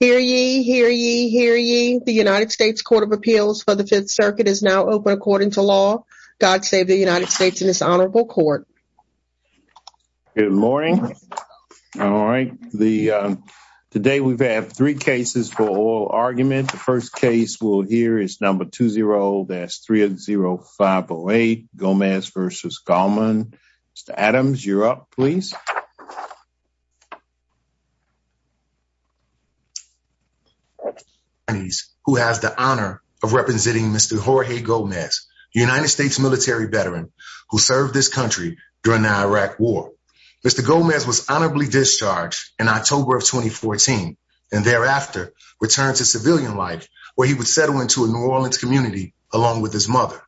Hear ye, hear ye, hear ye. The United States Court of Appeals for the Fifth Circuit is now open according to law. God save the United States and this honorable court. Good morning. All right. Today we've had three cases for oral argument. The first case we'll hear is number 20-30508 Gomez v. Galman. Mr. Adams, you're up please. ...who has the honor of representing Mr. Jorge Gomez, United States military veteran who served this country during the Iraq war. Mr. Gomez was honorably discharged in October of 2014 and thereafter returned to civilian life where he would settle into a New Orleans community along with his mother.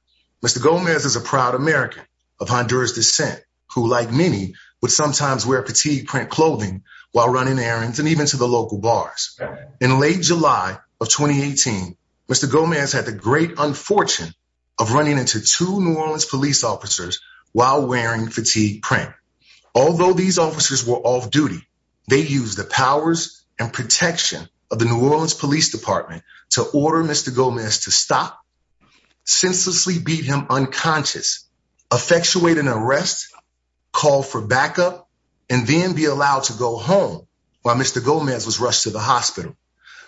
Mr. Gomez is a proud American of Honduras descent who like many would sometimes wear fatigue print clothing while running errands and even to the In late July of 2018, Mr. Gomez had the great unfortune of running into two New Orleans police officers while wearing fatigue print. Although these officers were off duty, they used the powers and protection of the New Orleans Police Department to order Mr. Gomez to stop, senselessly beat him unconscious, effectuate an arrest, call for backup, and then be allowed to go home while Mr. Gomez was rushed to the hospital.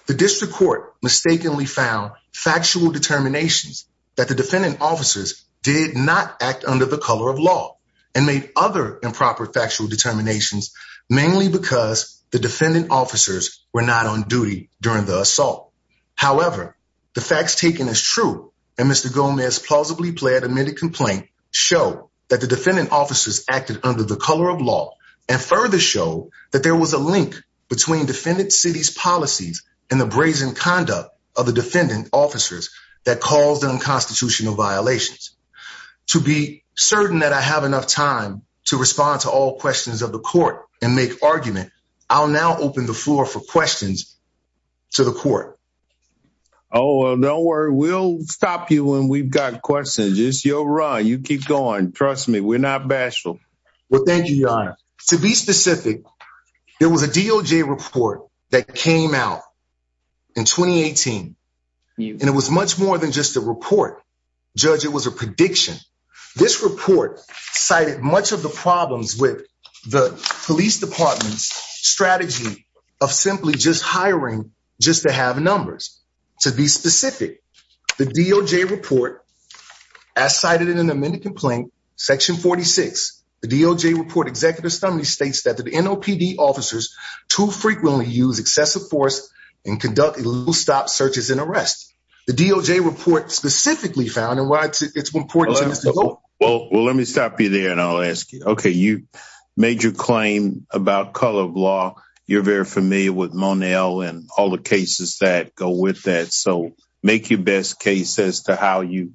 The district court mistakenly found factual determinations that the defendant officers did not act under the color of law and made other improper factual determinations mainly because the defendant officers were not on duty during the assault. However, the facts taken as true and Mr. Gomez's plausibly plead admitted complaint show that the defendant officers acted under the color of law and further show that there was a link between defendant city's policies and the brazen conduct of the defendant officers that caused unconstitutional violations. To be certain that I have enough time to respond to all questions of the court and make argument, I'll now open the floor for questions to the court. Oh well don't worry we'll stop you when we've got questions. It's your run. You keep going. Trust me we're not bashful. Well thank you your honor. To be specific, there was a DOJ report that came out in 2018 and it was much more than just a report. Judge, it was a prediction. This report cited much of the problems with the police department's strategy of simply just hiring just to have numbers. To be specific, the DOJ report as cited in an amended complaint section 46. The DOJ report executive study states that the NOPD officers too frequently use excessive force and conduct a little stop searches and arrests. The DOJ report specifically found and why it's important. Well let me stop you there and I'll ask you. Okay you made your claim about color of law. You're very familiar with Monell and all the cases that go with that. So make your best case as to how you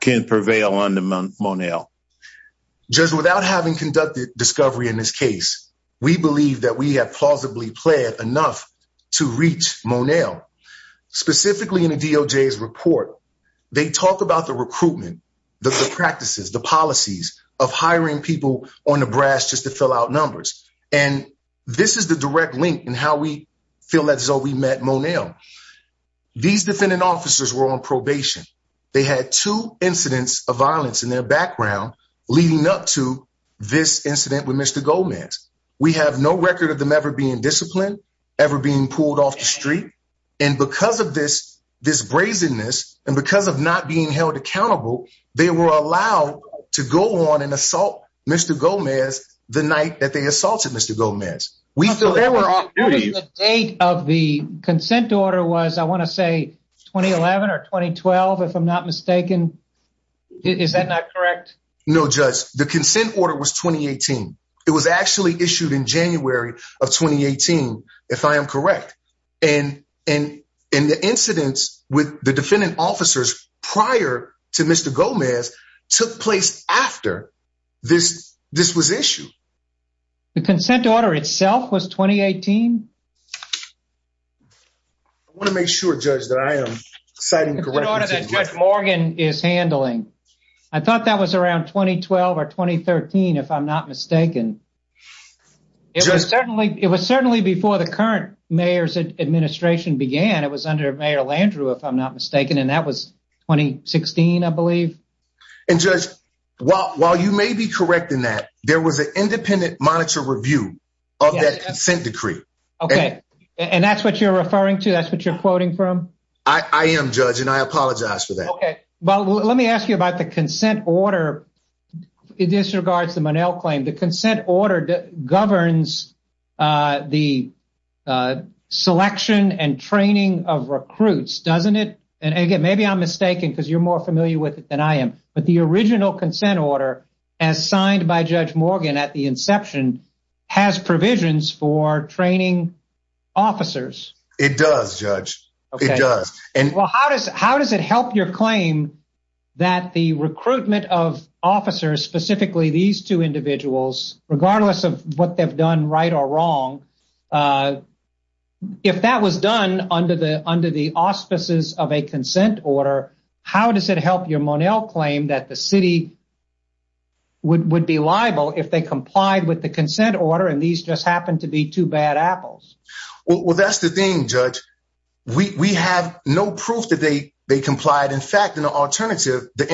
can prevail on the Monell. Judge, without having conducted discovery in this case, we believe that we have plausibly planned enough to reach Monell. Specifically in the DOJ's report, they talk about the recruitment, the practices, the policies of hiring people on the brass just to fill out numbers. And this is the direct link in how we feel that's how we met Monell. These defendant officers were on incidents of violence in their background leading up to this incident with Mr. Gomez. We have no record of them ever being disciplined, ever being pulled off the street, and because of this this brazenness and because of not being held accountable, they were allowed to go on and assault Mr. Gomez the night that they assaulted Mr. Gomez. The date of the consent order was I want to say 2011 or 2012 if I'm not mistaken. Is that not correct? No, Judge. The consent order was 2018. It was actually issued in January of 2018, if I am correct. And the incidents with the defendant officers prior to Mr. Gomez took place after this was issued. The consent order itself was 2018? I want to make sure, Judge, that I am citing correctly. The order that Judge Morgan is handling. I thought that was around 2012 or 2013 if I'm not mistaken. It was certainly before the current mayor's administration began. It was under Mayor Landrieu, if I'm not mistaken, and that was 2016, I believe. And Judge, while you may be correct in that, there was an independent monitor review of that consent decree. Okay, and that's what you're referring to? That's what you're quoting from? I am, Judge, and I apologize for that. Okay, well, let me ask you about the consent order. It disregards the Monell claim. The consent order governs the selection and training of recruits, doesn't it? And again, maybe I'm mistaken because you're more familiar with it than I am, but the original consent order as signed by Judge Morgan at the inception has provisions for training officers. It does, Judge. It does. Well, how does it help your claim that the recruitment of officers, specifically these two individuals, regardless of what they've done right or wrong, if that was done under the auspices of a consent order, how does it help your Monell claim that the city would be liable if they complied with the consent order and these just happened to be two bad apples? Well, that's the thing, Judge. We have no proof that they complied. In fact, in an alternative, the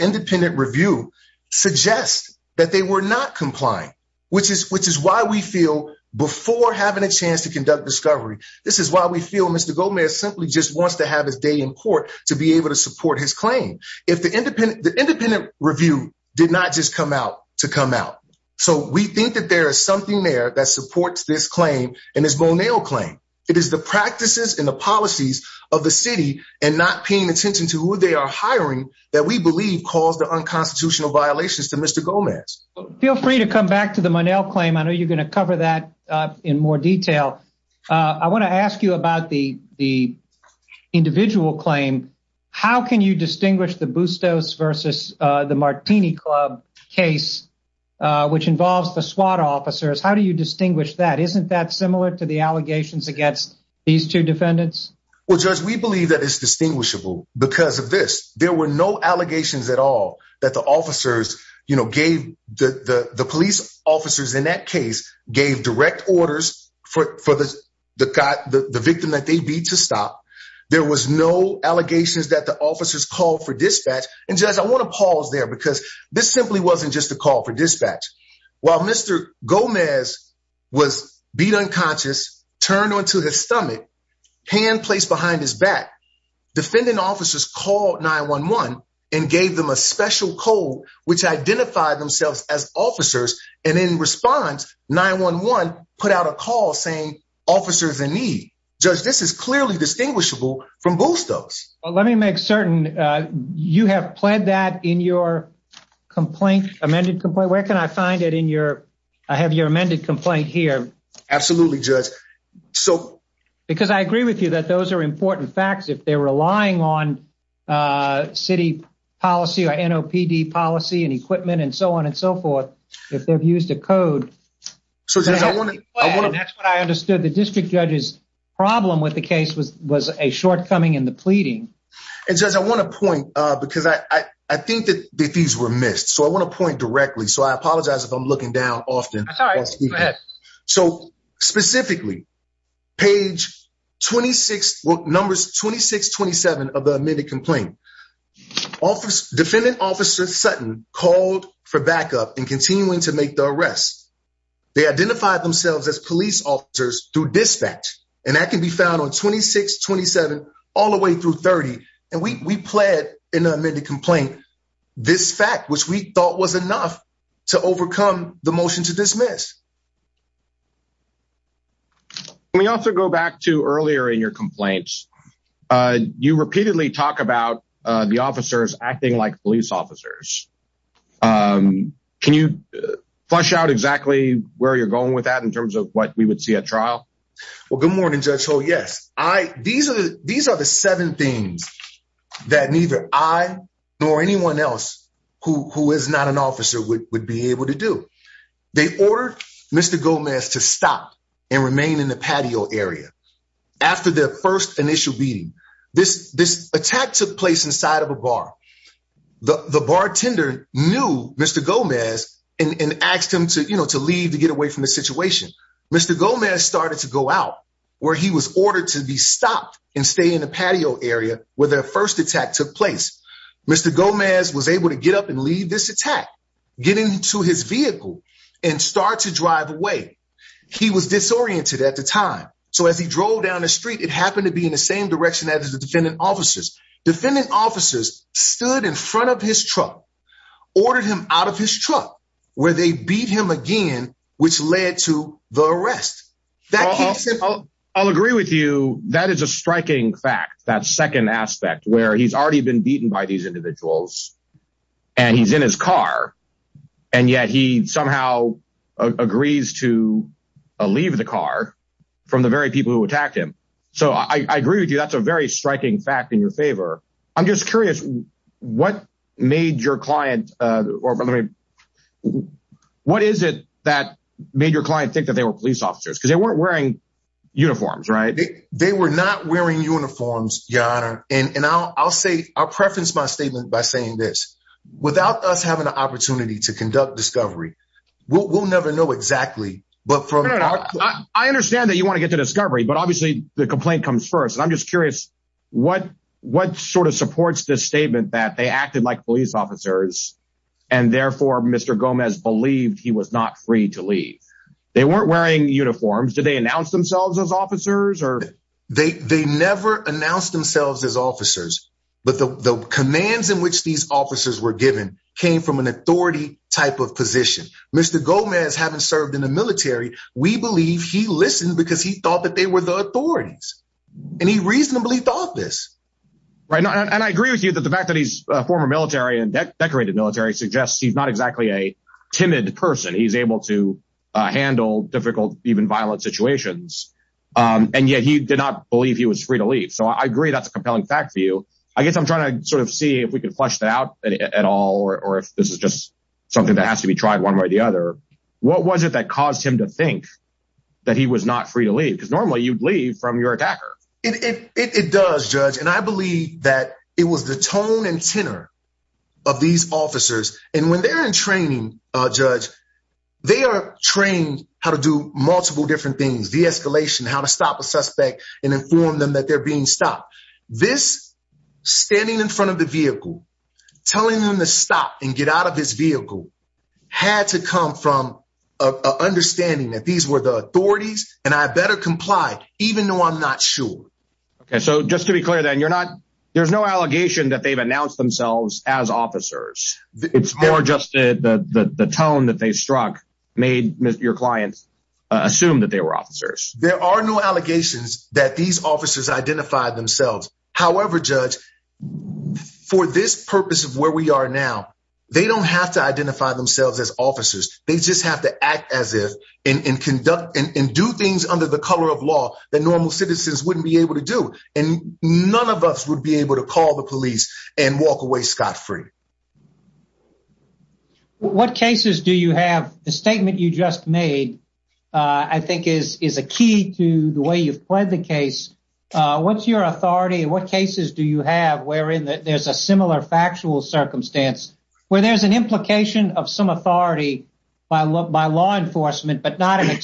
independent review suggests that they were not complying, which is why we feel, before having a chance to conduct discovery, this is why we feel Mr. Gomez simply just wants to have his day in court to be able to support his claim. If the independent review did not just come out to come out. So we think that there is something there that supports this claim and this Monell claim. It is the practices and the policies of the city and not paying attention to who they are hiring that we believe caused the unconstitutional violations to Mr. Gomez. Feel free to come back to the Monell claim. I know you're going to cover that in more detail. I want to ask you about the the individual claim. How can you distinguish the Bustos versus the Martini Club case, which involves the SWAT officers? How do you distinguish that? Isn't that similar to the allegations against these two defendants? Well, Judge, we believe that it's distinguishable because of this. There were no allegations at all that the officers gave the police officers in that case gave direct orders for the victim that they beat to stop. There was no allegations that the officers called for dispatch. And Judge, I want to pause there because this simply wasn't just a call for dispatch. While Mr. Gomez was beat unconscious, turned onto his stomach, hand placed behind his back, defendant officers called 911 and gave them a special code which identified themselves as officers and in response 911 put out a call saying officers in need. Judge, this is clearly distinguishable from Bustos. Well, let me make certain you have pled that in your complaint, amended complaint. Where can I find it in your I have your amended complaint here. Absolutely, Judge. Because I agree with you that those are important facts if they're relying on city policy or NOPD policy and equipment and so on and so forth. If they've used a code, that's what I understood. The district judge's problem with the case was a shortcoming in the pleading. And Judge, I want to point because I think that these were missed. So, I want to point directly. So, I apologize if I'm looking down often. That's all right. Go ahead. So, specifically page 26, well numbers 26-27 of the amended complaint. Defendant officer Sutton called for backup and continuing to make the arrest. They identified themselves as police officers through dispatch and that can be found on 26-27 all the way through 30. And we pled in the amended complaint this fact which we thought was enough to overcome the motion to dismiss. Let me also go back to earlier in your complaints. You repeatedly talk about the officers acting like police officers. Can you flesh out exactly where you're going with that in terms of what we would see at trial? Well, good morning, Judge Holt. Yes, these are the seven things that neither I nor anyone else who is not an officer would be able to do. They ordered Mr. Gomez to stop and remain in the patio area. After their first initial beating, this attack took place inside of a bar. The bartender knew Mr. Gomez and asked him to leave to get away from the situation. Mr. Gomez started to go out where he was ordered to be stopped and stay in the patio area where their first attack took place. Mr. Gomez was able to get up and leave this attack, get into his vehicle and start to drive away. He was disoriented at the time so as he drove down the street it happened to be in the same direction as the defendant officers. Defendant officers stood in front of his truck, ordered him out of his truck where they beat him again which led to the arrest. I'll agree with you, that is a striking fact, that second aspect where he's already been beaten by these individuals and he's in his car and yet he somehow agrees to leave the car from the very people who attacked him. So I agree with you, that's a very striking fact in your favor. I'm just curious what made your client or what is it that made your client think that they were police officers because they weren't wearing uniforms, right? They were not wearing uniforms, your honor, and I'll say, I'll preference my statement by saying this, without us having an opportunity to conduct discovery, we'll never know exactly. I understand that you want to get to discovery but obviously the complaint comes first and I'm just curious what sort of supports this statement that they acted like police officers and therefore Mr. Gomez believed he was not free to leave. They weren't wearing uniforms, did they announce themselves as officers or? They never announced themselves as officers but the commands in which these officers were given came from an authority type of position. Mr. Gomez having served in the military, we believe he listened because he thought that they were the authorities and he reasonably thought this. Right, and I agree with you that the fact that he's a former military and decorated military suggests he's not exactly a timid person. He's able to handle difficult, even violent situations and yet he did not believe he was free to leave. So I agree that's a compelling fact for you. I guess I'm trying to sort of see if we can flesh that out at all or if this is just something that has to be tried one way or the other. What was it that caused him to think that he was not free to leave? Because I believe that it was the tone and tenor of these officers and when they're in training, Judge, they are trained how to do multiple different things, de-escalation, how to stop a suspect and inform them that they're being stopped. This standing in front of the vehicle, telling them to stop and get out of his vehicle had to come from an understanding that these were the authorities and I better comply even though I'm not sure. Okay, so just to be clear then, you're not, there's no allegation that they've announced themselves as officers. It's more just the tone that they struck made your clients assume that they were officers. There are no allegations that these officers identified themselves. However, Judge, for this purpose of where we are now, they don't have to identify themselves as officers. They just have to act as if and conduct and do things under the circumstances that they're supposed to be able to do and none of us would be able to call the police and walk away scot-free. What cases do you have, the statement you just made I think is a key to the way you've played the case. What's your authority and what cases do you have wherein that there's a similar factual circumstance where there's an implication of some authority by law enforcement but not an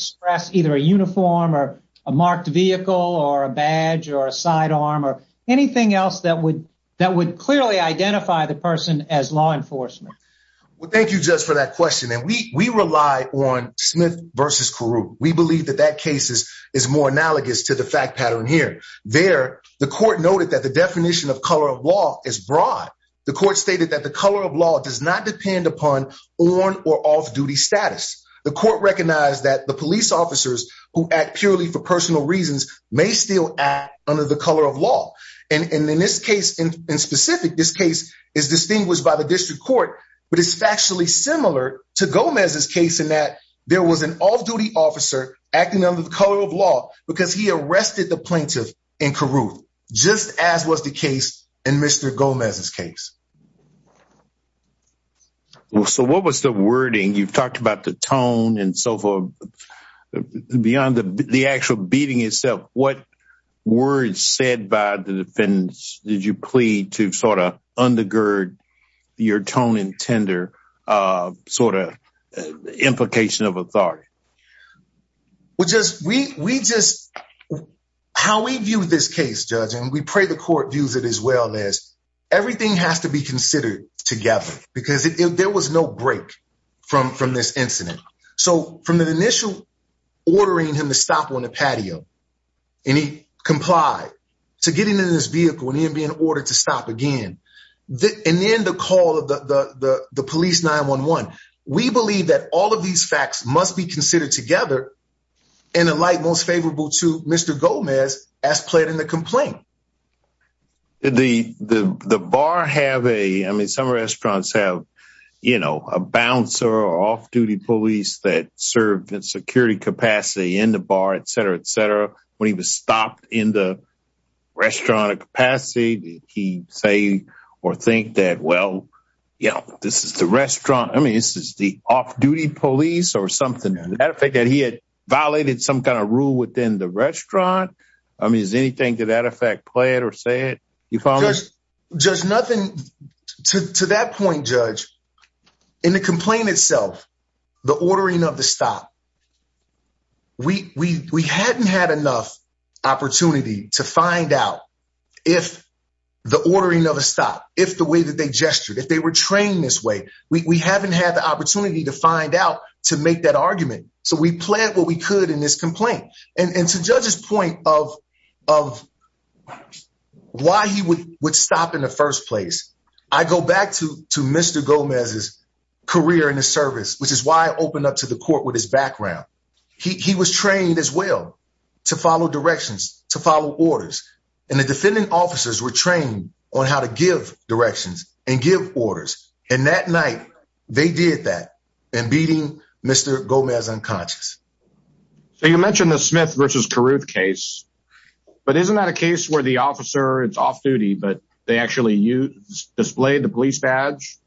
either a uniform or a marked vehicle or a badge or a sidearm or anything else that would that would clearly identify the person as law enforcement? Well, thank you Judge for that question and we we rely on Smith versus Carew. We believe that that case is is more analogous to the fact pattern here. There, the court noted that the definition of color of law is broad. The court stated that the color of law does not depend upon on or off-duty status. The court recognized that the police officers who act purely for personal reasons may still act under the color of law and in this case in specific this case is distinguished by the district court but it's factually similar to Gomez's case in that there was an off-duty officer acting under the color of law because he arrested the plaintiff Well, so what was the wording? You've talked about the tone and so forth beyond the the actual beating itself. What words said by the defendants did you plead to sort of undergird your tone and tender sort of implication of authority? Well, just we we just how we view this case judge and we pray the court views it as well as everything has to be considered together because if there was no break from from this incident so from the initial ordering him to stop on the patio and he complied to getting in this vehicle and he would be in order to stop again the and then the call of the the the police 911. We believe that all of these facts must be considered together in a light most favorable to Mr. Gomez as played in the complaint. Did the the bar have a I mean some restaurants have you know a bouncer or off-duty police that served in security capacity in the bar etc etc when he was stopped in the restaurant capacity did he say or think that well you know this is the restaurant I mean this is the off-duty police or something that effect he had violated some kind of rule within the restaurant I mean is anything to that effect played or said you found just nothing to to that point judge in the complaint itself the ordering of the stop we we we hadn't had enough opportunity to find out if the ordering of a stop if the way that they gestured if they were trained this way we we haven't had the opportunity to find out to make that argument so we played what we could in this complaint and and to judge's point of of why he would would stop in the first place I go back to to Mr. Gomez's career in the service which is why I opened up to the court with his background he he was trained as well to follow directions to follow orders and the defending officers were trained on how to give directions and give orders and that night they did that and beating Mr. Gomez unconscious so you mentioned the Smith versus Carruth case but isn't that a case where the officer it's off duty but they actually used displayed the police badge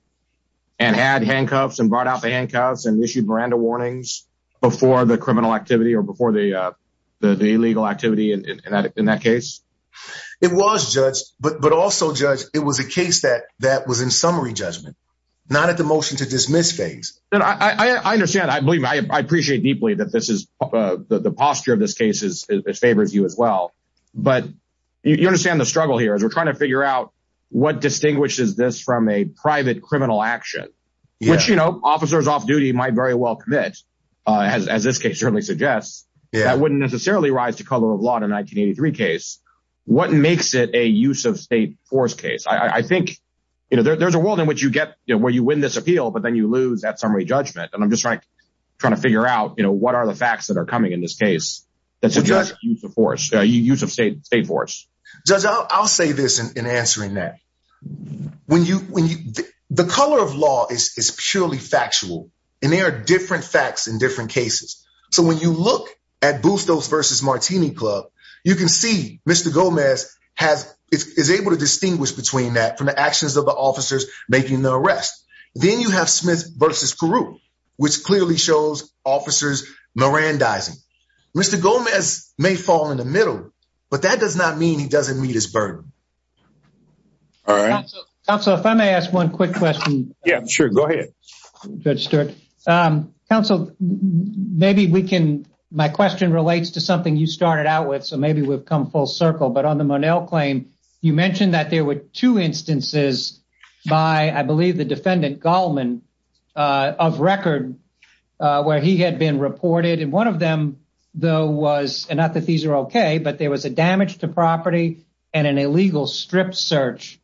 and had handcuffs and brought out the handcuffs and issued Miranda warnings before the criminal activity or before the uh the illegal activity in that in that case it was judged but but also judge it was a to dismiss things I understand I believe I appreciate deeply that this is the posture of this case is favors you as well but you understand the struggle here as we're trying to figure out what distinguishes this from a private criminal action which you know officers off duty might very well commit uh as this case certainly suggests that wouldn't necessarily rise to color of law in a 1983 case what makes it a use of state force case I think you know there's a world in which you get where you win this appeal but then you lose that summary judgment and I'm just like trying to figure out you know what are the facts that are coming in this case that suggest use of force use of state state force judge I'll say this in answering that when you when you the color of law is purely factual and there are different facts in different cases so when you look at Bustos versus Martini Club you can see Mr. Gomez has is able to the officers making the arrest then you have Smith versus Peru which clearly shows officers Mirandizing Mr. Gomez may fall in the middle but that does not mean he doesn't meet his burden all right so if I may ask one quick question yeah sure go ahead Judge Stewart um counsel maybe we can my question relates to something you started out with so maybe we've come full circle but on the Monell claim you mentioned that there were two instances by I believe the defendant Gallman of record where he had been reported and one of them though was and not that these are okay but there was a damage to property and an illegal strip search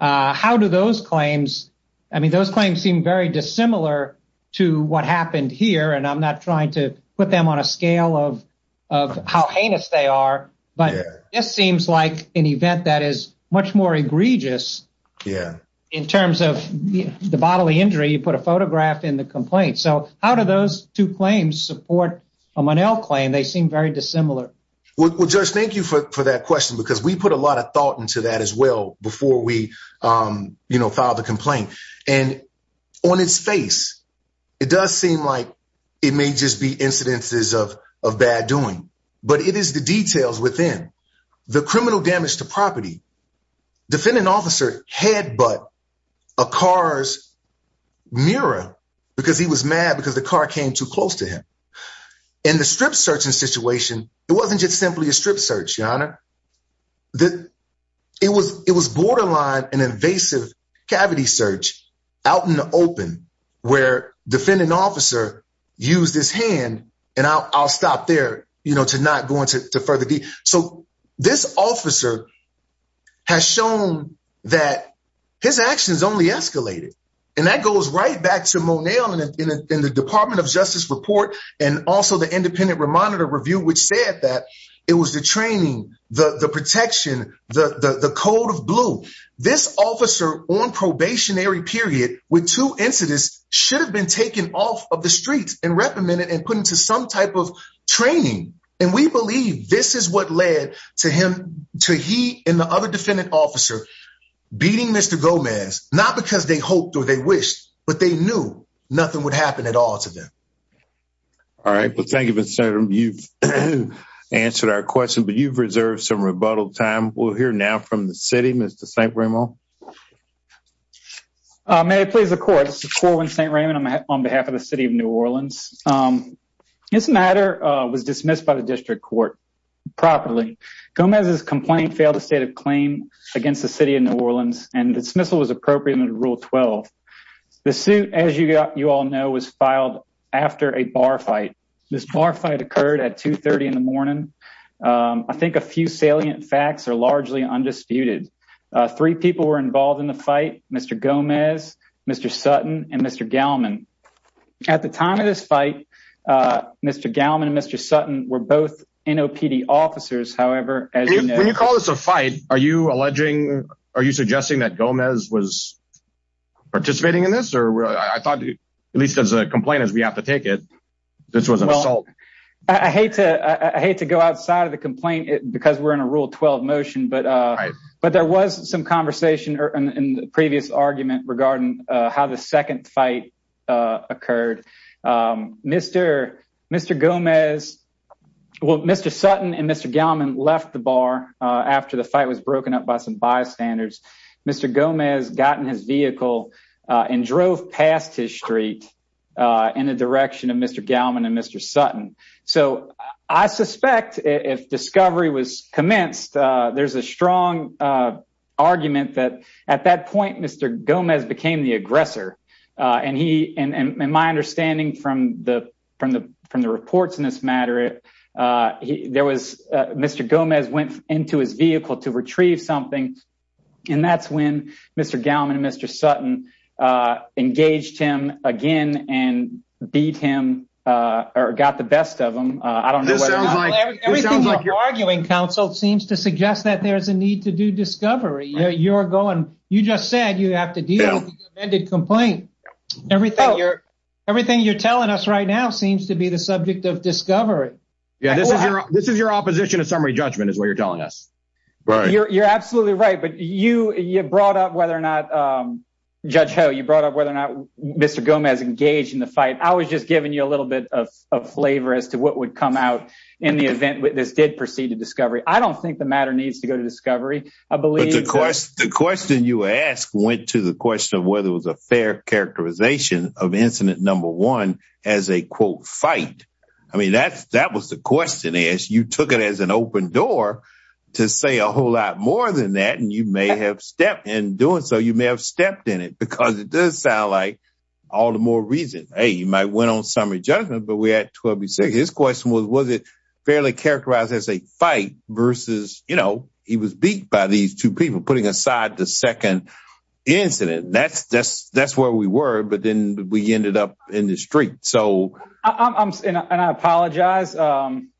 how do those claims I mean those claims seem very dissimilar to what happened here and I'm not trying to put them on a scale of of how heinous they are but this seems like an event that is much more egregious yeah in terms of the bodily injury you put a photograph in the complaint so how do those two claims support a Monell claim they seem very dissimilar well Judge thank you for that question because we put a lot of thought into that as well before we um you know filed a complaint and on its face it does seem like it may just be incidences of of bad doing but it is the details within the criminal damage to property defendant officer had but a car's mirror because he was mad because the car came too close to him in the strip searching situation it wasn't just simply a strip search your honor that it was it was borderline an invasive cavity search out in the open where defendant officer used his hand and I'll stop there you know to not go into further deep so this officer has shown that his actions only escalated and that goes right back to Monell in the Department of Justice report and also the independent remonitor review which said that it was the training the the protection the the code of blue this officer on probationary period with two incidents should have been taken off of the streets and reprimanded and put to some type of training and we believe this is what led to him to he and the other defendant officer beating Mr. Gomez not because they hoped or they wished but they knew nothing would happen at all to them all right well thank you Mr. Stater you've answered our question but you've reserved some rebuttal time we'll hear now from the city Mr. St. Raymond uh may I please the court this is Corwin St. Raymond I'm on behalf of the city of New Orleans this matter was dismissed by the district court properly Gomez's complaint failed a state of claim against the city of New Orleans and the dismissal was appropriate under rule 12 the suit as you got you all know was filed after a bar fight this bar fight occurred at 2 30 in the morning I think a few salient facts are largely undisputed three people were involved in the fight Mr. Gomez Mr. Sutton and Mr. Gallman at the time of this fight uh Mr. Gallman and Mr. Sutton were both NOPD officers however as you know when you call this a fight are you alleging are you suggesting that Gomez was participating in this or I thought at least as a complaint as we have to take it this was an assault I hate to I hate to go outside of the complaint because we're in a rule 12 motion but uh but there was some conversation or in the previous argument regarding uh how the second fight uh occurred um Mr. Mr. Gomez well Mr. Sutton and Mr. Gallman left the bar uh after the fight was broken up by some bystanders Mr. Gomez got in his vehicle uh and drove past his street uh in the direction of Mr. Gallman and Mr. Sutton so I suspect if discovery was argument that at that point Mr. Gomez became the aggressor uh and he and and my understanding from the from the from the reports in this matter uh there was uh Mr. Gomez went into his vehicle to retrieve something and that's when Mr. Gallman and Mr. Sutton uh engaged him again and beat him uh or got the best of them uh I don't know everything you're arguing counsel seems to suggest that there's a need to do discovery you're going you just said you have to deal with the amended complaint everything you're everything you're telling us right now seems to be the subject of discovery yeah this is your this is your opposition to summary judgment is what you're telling us right you're absolutely right but you you brought up whether or not um judge ho you brought up whether or not Mr. Gomez engaged in the fight I was just giving you a little bit of flavor as to what would come out in the event this did proceed to discovery I believe of course the question you asked went to the question of whether it was a fair characterization of incident number one as a quote fight I mean that's that was the question as you took it as an open door to say a whole lot more than that and you may have stepped in doing so you may have stepped in it because it does sound like all the more reason hey you might win on summary judgment but we had 12 his question was was it fairly characterized as a fight versus you know he was beat by these two people putting aside the second incident that's that's that's where we were but then we ended up in the street so I'm and I apologize um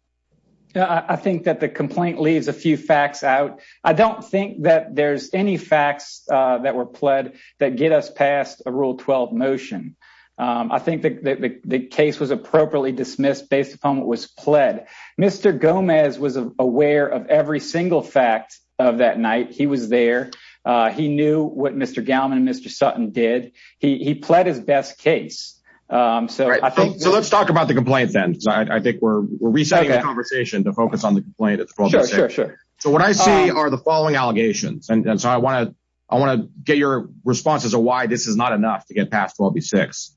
I think that the complaint leaves a few facts out I don't think that there's any facts uh that were pled that get us past a rule 12 motion um I think that the case was appropriately dismissed based upon what pled mr gomez was aware of every single fact of that night he was there uh he knew what mr gallman and mr sutton did he he pled his best case um so I think so let's talk about the complaint then I think we're resetting the conversation to focus on the complaint it's 12 sure so what I see are the following allegations and so I want to I want to get your response as to why this is not enough to get past 12 b6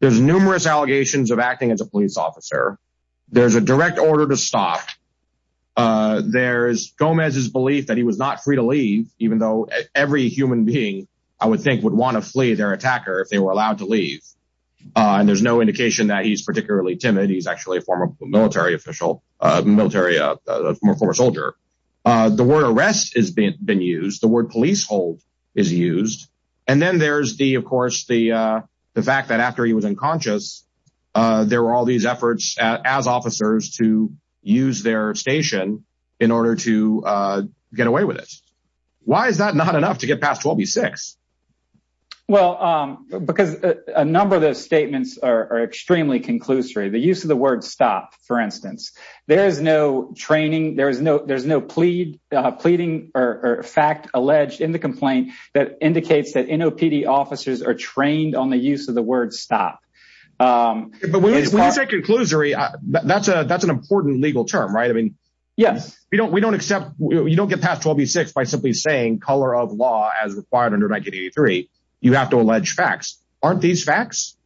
there's numerous allegations of acting as a police officer there's a direct order to stop uh there's gomez's belief that he was not free to leave even though every human being I would think would want to flee their attacker if they were allowed to leave uh and there's no indication that he's particularly timid he's actually a former military official uh military uh former soldier uh the word arrest has been been used the word police hold is used and then there's the of course the uh fact that after he was unconscious uh there were all these efforts as officers to use their station in order to uh get away with it why is that not enough to get past 12 b6 well um because a number of those statements are extremely conclusory the use of the word stop for instance there is no training there is no there's no plead uh pleading or fact alleged in the complaint that indicates that nopd officers are using the word stop um but when you say conclusory that's a that's an important legal term right i mean yes we don't we don't accept you don't get past 12 b6 by simply saying color of law as required under 1983 you have to allege facts aren't these facts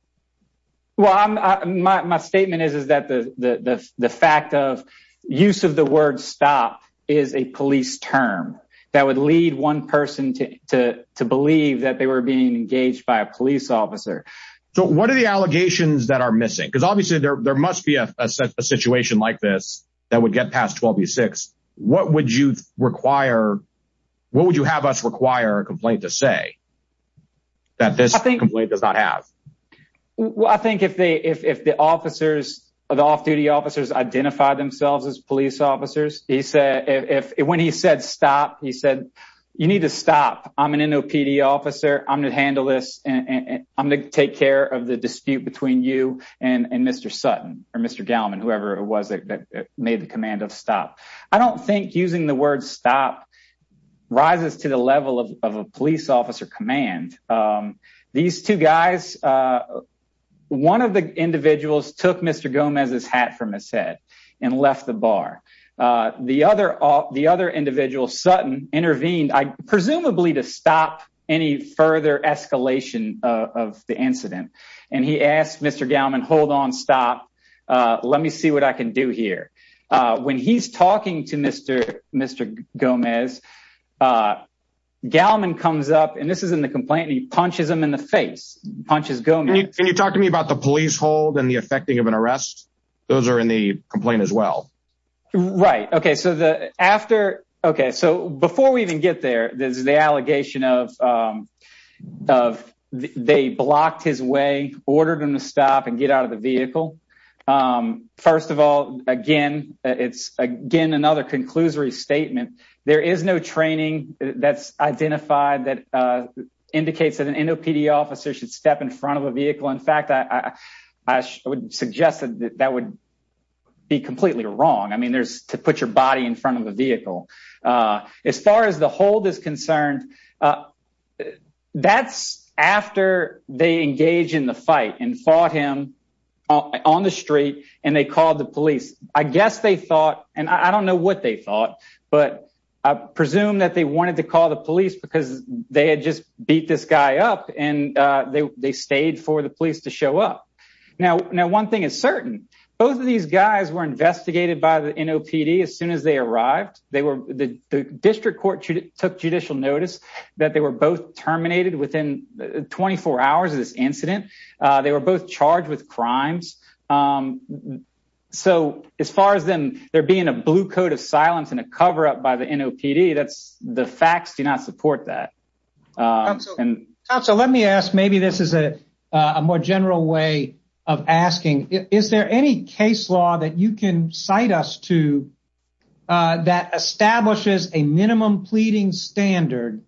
well i'm my statement is is that the the the fact of use of the word stop is a police term that would lead one person to to believe that they were being engaged by a police officer so what are the allegations that are missing because obviously there there must be a situation like this that would get past 12 b6 what would you require what would you have us require a complaint to say that this complaint does not have well i think if they if the officers the off-duty officers identify themselves as police officers he said if when he said stop he said you need to stop i'm an nopd officer i'm going to handle this and i'm going to take care of the dispute between you and and mr sutton or mr gallman whoever it was that made the command of stop i don't think using the word stop rises to the level of a police officer command um these two guys uh one of the individuals took mr gomez's hat from his head and left the bar uh the other uh the other individual sutton intervened i presumably to stop any further escalation of the incident and he asked mr gallman hold on stop uh let me see what i can do here uh when he's talking to mr mr gomez uh gallman comes up and this is in the complaint he punches him in the face punches gomez can you talk to me about the police hold and the effecting of an arrest those are in the complaint as well right okay so the after okay so before we even get there there's the allegation of um of they blocked his way ordered him to stop and get out of the vehicle um first of all again it's again another conclusory statement there is no training that's identified that uh indicates that an nopd officer should step in front of a vehicle in fact i i would suggest that that would be an officer body in front of the vehicle uh as far as the hold is concerned that's after they engage in the fight and fought him on the street and they called the police i guess they thought and i don't know what they thought but i presume that they wanted to call the police because they had just beat this guy up and uh they they stayed for the police to show up now now one thing is certain both of these guys were investigated by the nopd as soon as they arrived they were the district court took judicial notice that they were both terminated within 24 hours of this incident they were both charged with crimes so as far as them there being a blue coat of silence and a cover-up by the nopd that's the facts do not support that and council let me ask maybe this is a a more general way of asking is there any case law that you can cite us to that establishes a minimum pleading standard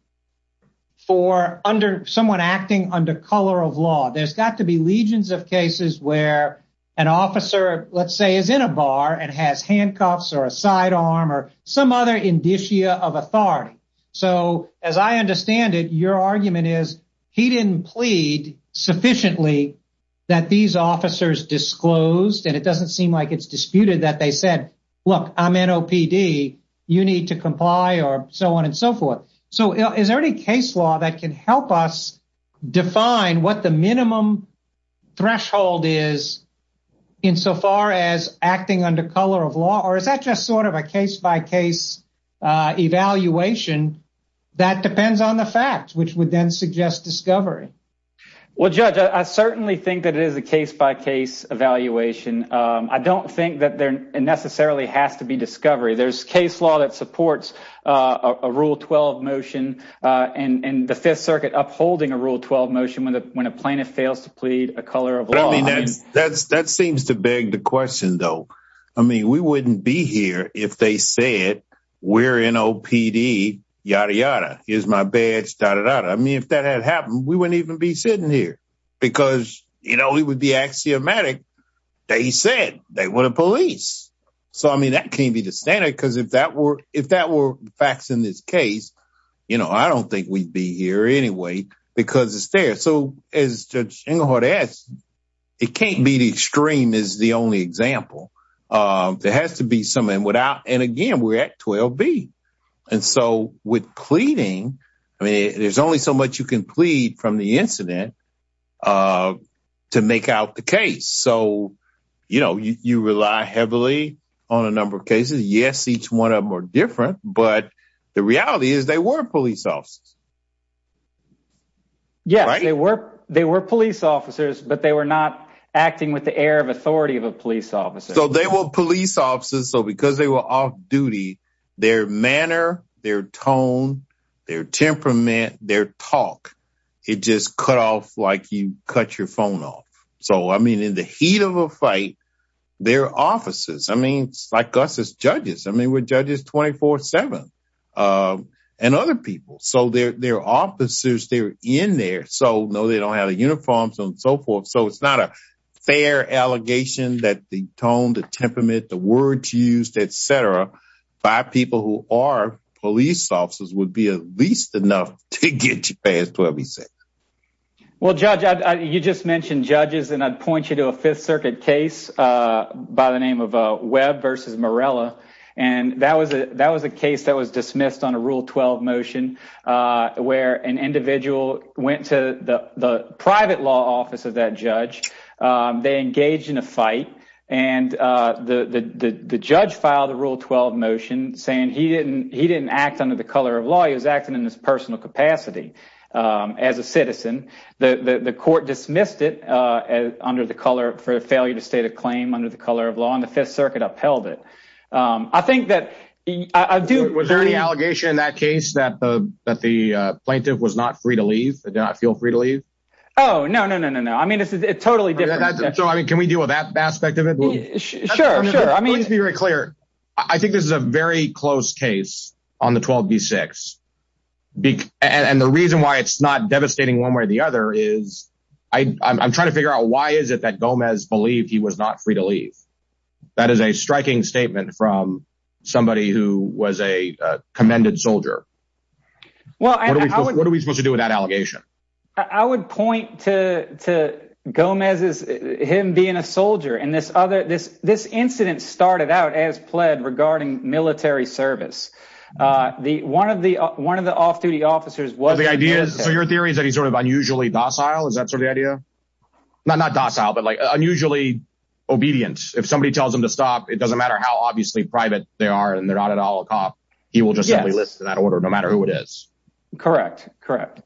for under someone acting under color of law there's got to be legions of cases where an officer let's say is in a bar and has handcuffs or a sidearm or some other indicia of authority so as i understand it your argument is he didn't plead sufficiently that these officers disclosed and it doesn't seem like it's said look i'm nopd you need to comply or so on and so forth so is there any case law that can help us define what the minimum threshold is insofar as acting under color of law or is that just sort of a case-by-case uh evaluation that depends on the fact which would then suggest discovery well judge i certainly think that it is a case-by-case evaluation um i don't think that there necessarily has to be discovery there's case law that supports uh a rule 12 motion uh and and the fifth circuit upholding a rule 12 motion when the when a plaintiff fails to plead a color of law that's that seems to beg the question though i mean we wouldn't be here if they said we're nopd yada yada here's my badge dada dada i mean if that had happened we wouldn't even be sitting here because you know it would be axiomatic they said they were the police so i mean that can't be the standard because if that were if that were facts in this case you know i don't think we'd be here anyway because it's there so as judge inglehart asked it can't be the extreme is the only example um there has to be something without and again we're at 12 b and so with pleading i mean there's only so much you can plead from the incident uh to make out the case so you know you rely heavily on a number of cases yes each one of them are different but the reality is they were police officers yes they were they were police officers but they were not acting with the air of authority of a police officer so they were police officers so because they were off duty their manner their tone their talk it just cut off like you cut your phone off so i mean in the heat of a fight their officers i mean like us as judges i mean we're judges 24 7 um and other people so they're they're officers they're in there so no they don't have the uniforms and so forth so it's not a fair allegation that the tone the temperament the words used etc by people who are police officers would be at least enough to get you past what we said well judge you just mentioned judges and i'd point you to a fifth circuit case uh by the name of uh webb versus morella and that was a that was a case that was dismissed on a rule 12 motion uh where an individual went to the the private law office of that judge um they engaged in a fight and uh the the the judge filed a rule 12 motion saying he didn't he didn't act under the color of law he was acting in his personal capacity um as a citizen the the court dismissed it uh as under the color for a failure to state a claim under the color of law and the fifth circuit upheld it um i think that i do was there any allegation in that case that the that the uh plaintiff was not free to leave did not feel free to leave oh no no no no i mean it's totally different so i mean can we deal with that aspect of it sure sure i mean let's be very clear i think this is a very close case on the 12b6 and the reason why it's not devastating one way or the other is i i'm trying to figure out why is it that gomez believed he was not free to leave that is a striking statement from somebody who was a commended soldier well what are we supposed to do with that allegation i would point to to gomez's him being a soldier and this other this this incident started out as pled regarding military service uh the one of the one of the off-duty officers was the idea so your theory is that he's sort of unusually docile is that sort of idea not not docile but like unusually obedient if somebody tells him to stop it doesn't matter how obviously private they are and they're not at all a cop he will just simply listen to that order no matter who it is correct correct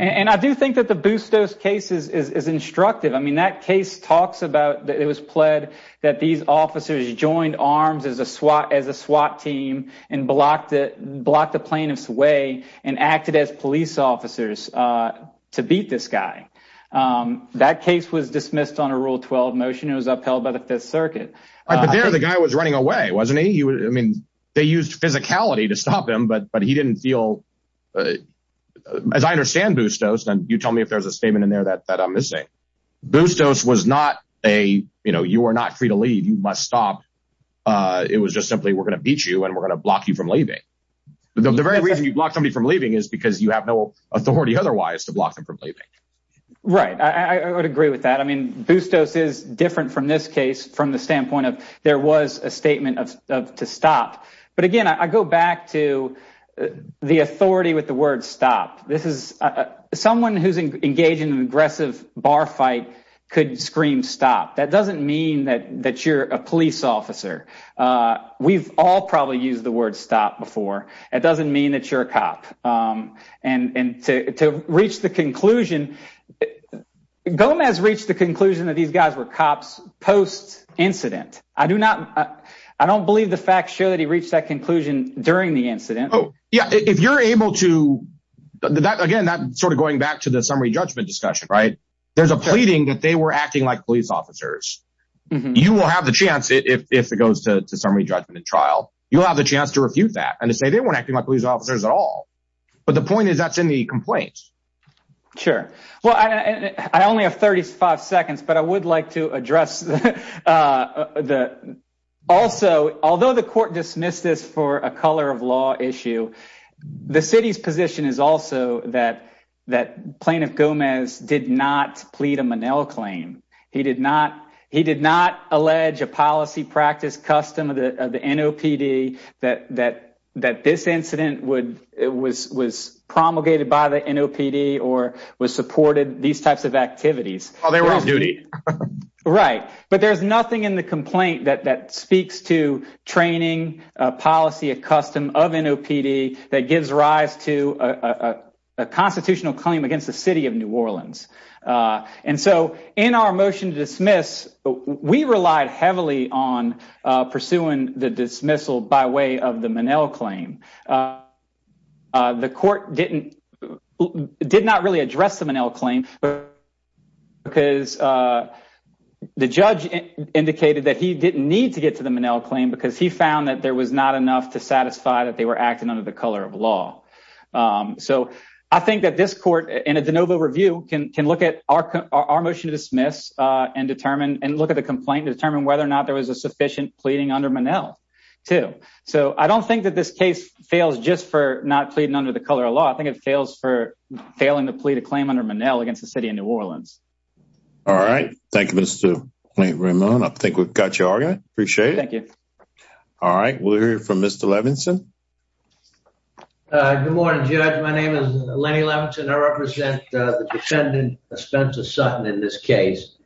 and i do think that the bustos case is is instructive i mean that case talks about that it was pled that these officers joined arms as a SWAT as a SWAT team and blocked it blocked the plaintiff's way and acted as police officers uh to beat this guy um that case was dismissed on a rule 12 motion it was upheld by the fifth circuit but there the guy was running away wasn't he he was i mean they used physicality to stop him but but he didn't feel as i understand bustos and you tell me if there's a statement in there that that i'm missing bustos was not a you know you are not free to leave you must stop uh it was just simply we're going to beat you and we're going to block you from leaving but the very reason you block somebody from leaving is because you have no authority otherwise to block them from leaving right i i would agree with that i mean bustos is different from this case from the standpoint of there was a statement of to stop but again i go back to the authority with the word stop this is someone who's engaged in an aggressive bar fight could scream stop that doesn't mean that that you're a police officer uh we've all probably used the word stop before it doesn't mean that you're a cop um and and to to reach the conclusion gomez reached the conclusion that these guys were cops post incident i do not i don't believe the facts show that he reached that conclusion during the incident oh yeah if you're able to again that sort of going back to the summary judgment discussion right there's a pleading that they were acting like police officers you will have the chance if it goes to summary judgment trial you'll have the chance to refute that and to say they weren't acting like police officers at all but the point is that's in the complaint sure well i i only have 35 seconds but i would like to address uh the also although the court dismissed this for a color of law issue the city's position is also that that plaintiff gomez did not plead a manel claim he did not he did not allege a policy practice custom of the of the nopd that that that this incident would it was was promulgated by the nopd or was supported these types of activities well there was duty right but there's nothing in the complaint that that training policy a custom of nopd that gives rise to a a constitutional claim against the city of new orleans uh and so in our motion to dismiss we relied heavily on pursuing the dismissal by way of the manel claim uh the court didn't did not really address the manel claim because uh the judge indicated that he didn't need to get to the manel claim because he found that there was not enough to satisfy that they were acting under the color of law um so i think that this court in a de novo review can can look at our our motion to dismiss uh and determine and look at the complaint to determine whether or not there was a sufficient pleading under manel too so i don't think that this case fails just for not pleading under the color of law i think it fails for failing to plead a claim under manel against the city of new orleans all right thank you mr ramon i think we've got your argument appreciate it thank you all right we'll hear from mr levinson uh good morning judge my name is lenny levinson i represent the defendant spencer sutton in this case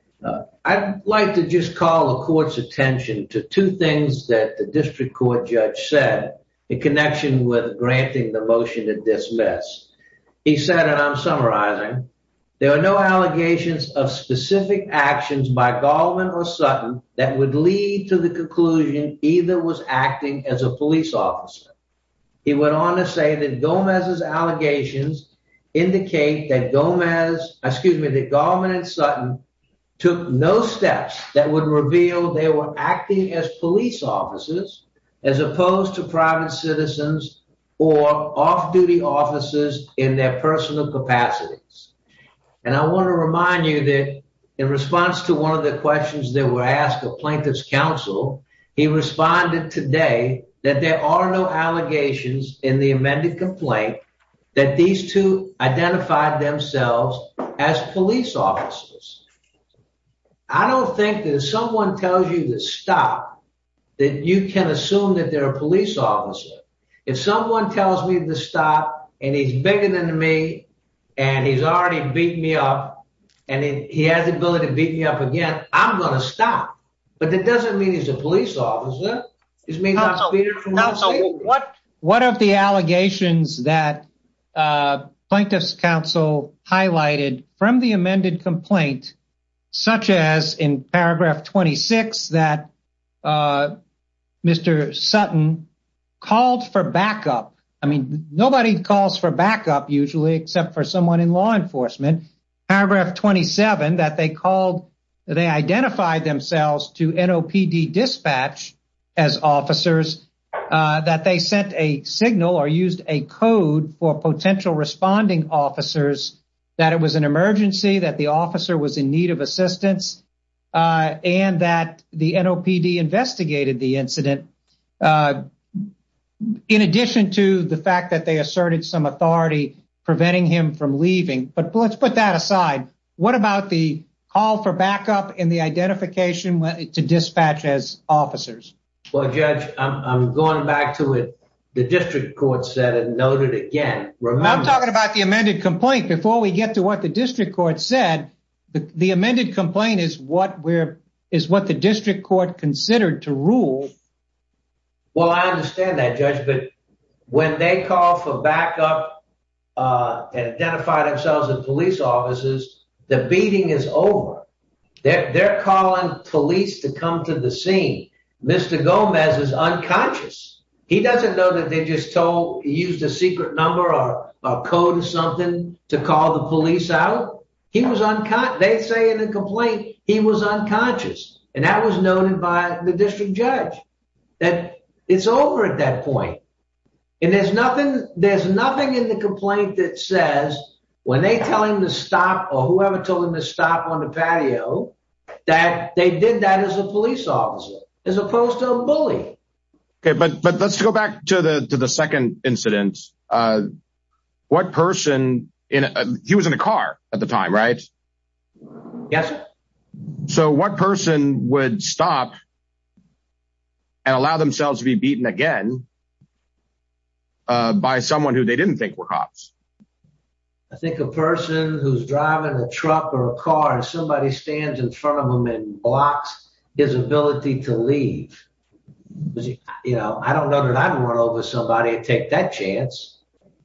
i'd like to just call the court's attention to two things that the district court judge said in connection with granting the motion to dismiss he said and i'm summarizing there are no allegations of specific actions by would lead to the conclusion either was acting as a police officer he went on to say that gomez's allegations indicate that gomez excuse me that garman and sutton took no steps that would reveal they were acting as police officers as opposed to private citizens or off-duty officers in their personal capacities and i want to remind you that in the plaintiff's counsel he responded today that there are no allegations in the amended complaint that these two identified themselves as police officers i don't think that if someone tells you to stop that you can assume that they're a police officer if someone tells me to stop and he's bigger than me and he's already beat me up and he has the ability to beat me up again i'm gonna stop but that doesn't mean he's a police officer it's me not so what what of the allegations that uh plaintiff's counsel highlighted from the amended complaint such as in paragraph 26 that uh mr sutton called for backup i mean nobody calls for backup usually except for someone in law enforcement paragraph 27 that they called they identified themselves to nopd dispatch as officers that they sent a signal or used a code for potential responding officers that it was an emergency that the officer was in need of assistance and that the nopd investigated the incident in addition to the fact that they asserted some authority preventing him from leaving but let's put that aside what about the call for backup in the identification to dispatch as officers well judge i'm going back to it the district court said and noted again remember i'm talking about the amended complaint before we get to what the district court said but the amended complaint is what we're is what the district court considered to rule well i understand that judge but when they call for backup uh and identify themselves in police offices the beating is over they're calling police to come to the scene mr gomez is unconscious he doesn't know that they just told used a secret number or a code or something to call the police out he was on cut they say in a complaint he was unconscious and that was noted by the district judge that it's over at that point and there's nothing there's nothing in the complaint that says when they tell him to stop or whoever told him to stop on the patio that they did that as a police officer as opposed to a bully okay but but let's go back to the to the second incident uh what person in a he was in a car at the time right yes sir so what person would stop and allow themselves to be beaten again uh by someone who they didn't think were cops i think a person who's driving a truck or a car and somebody stands in front of him and blocks his ability to leave you know i don't know that i'd run over somebody and take that chance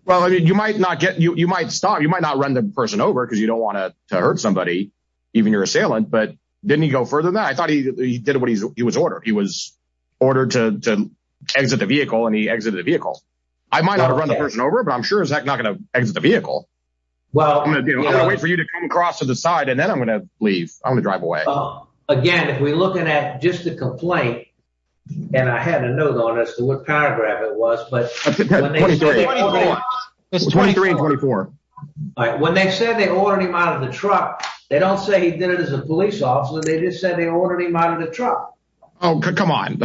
well i mean you might not get you you might stop you might not run the person over because you don't want to hurt somebody even your assailant but didn't he go he was ordered he was ordered to to exit the vehicle and he exited the vehicle i might not have run the person over but i'm sure he's not going to exit the vehicle well i'm going to wait for you to come across to the side and then i'm going to leave i'm going to drive away again if we're looking at just the complaint and i had a note on as to what paragraph it was but it's 23 and 24 all right when they said they ordered him out of the truck they don't say he did it as a police officer they just said they ordered him out of the truck oh come on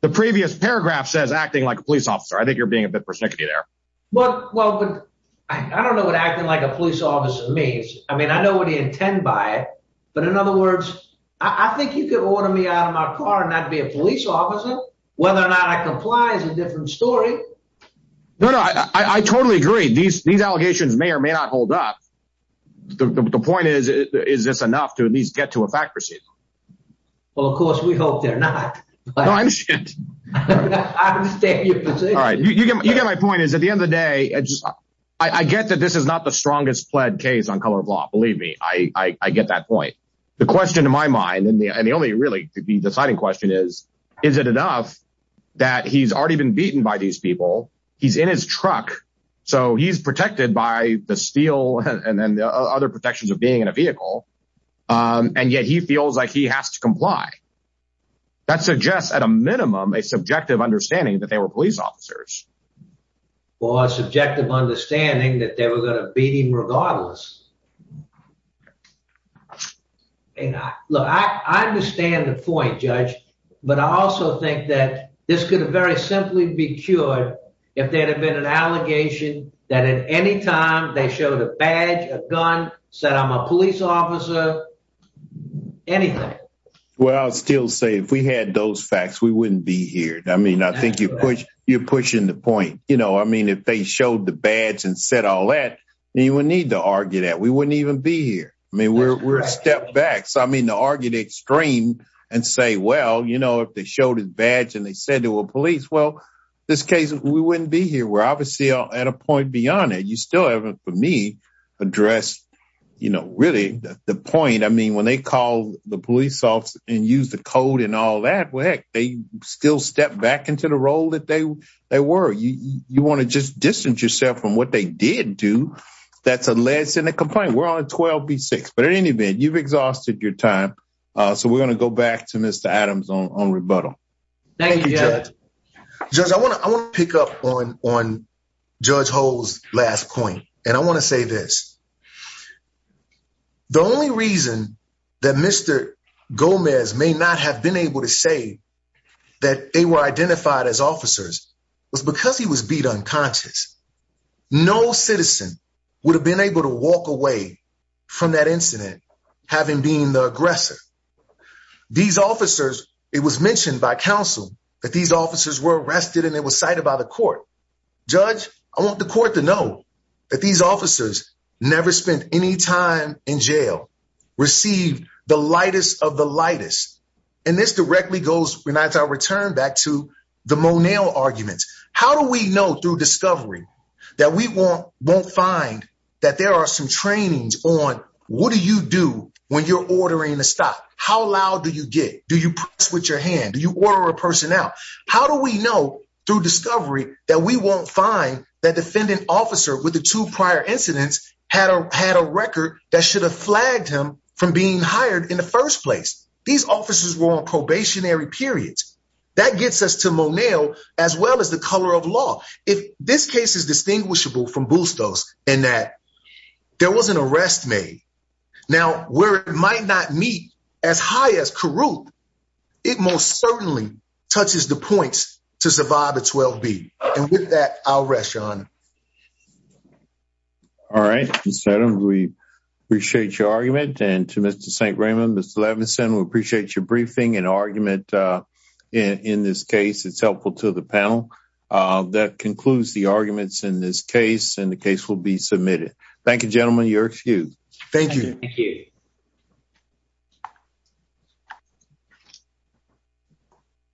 the previous paragraph says acting like a police officer i think you're being a bit persnickety there well well but i don't know what acting like a police officer means i mean i know what he intend by it but in other words i think you could order me out of my car and not be a police officer whether or not i comply is a different story no no i i totally agree these these allegations may or may not hold up the point is is this enough to at least get to a fact proceed well of course we hope they're not no i understand i understand your position all right you get my point is at the end of the day i just i i get that this is not the strongest pled case on color of law believe me i i i get that point the question to my mind and the and the only really to be deciding question is is it enough that he's already been beaten by these people he's in his truck so he's protected by the steel and then the other protections of being in a vehicle um and yet he feels like he has to comply that suggests at a minimum a subjective understanding that they were police officers or a subjective understanding that they were going to beat him regardless and i look i i understand the point judge but i also think that this could very simply be cured if there had been an allegation that at any time they showed a badge a gun said i'm a police officer anything well i'll still say if we had those facts we wouldn't be here i mean i think you push you're pushing the point you know i mean if they showed the badge and said all that you wouldn't need to argue that we wouldn't even be here i mean we're we're a step back so i mean to argue the extreme and say well you know if they showed his badge and they said they were police well this case we wouldn't be here we're obviously at a point beyond it you still haven't for me addressed you know really the point i mean when they call the police off and use the code and all that well heck they still step back into the role that they they were you you want to just distance yourself from what they did do that's a less than a complaint we're on a 12 b6 but at any event you've exhausted your time uh so we're going to go back to mr adams on on rebuttal thank you judge judge i want to i want to up on on judge ho's last point and i want to say this the only reason that mr gomez may not have been able to say that they were identified as officers was because he was beat unconscious no citizen would have been able to walk away from that incident having being the aggressor these officers it was mentioned by council that these officers were arrested and they were cited by the court judge i want the court to know that these officers never spent any time in jail received the lightest of the lightest and this directly goes when i return back to the monel arguments how do we know through discovery that we won't won't find that there are some trainings on what do you do when you're ordering a stop how loud do you get do you press with your hand do you order a person out how do we know through discovery that we won't find that defendant officer with the two prior incidents had a had a record that should have flagged him from being hired in the first place these officers were on probationary periods that gets us to monel as well as the color of law if this case is distinguishable from bustos and that there was an arrest made now where it might not meet as high as caruth it most certainly touches the points to survive a 12 b and with that i'll rest your honor all right we appreciate your argument and to mr st raymond mr levinson we appreciate your briefing and argument uh in in this case it's helpful to the panel uh that concludes the arguments in this case and the case will be submitted thank you gentlemen you're excused thank you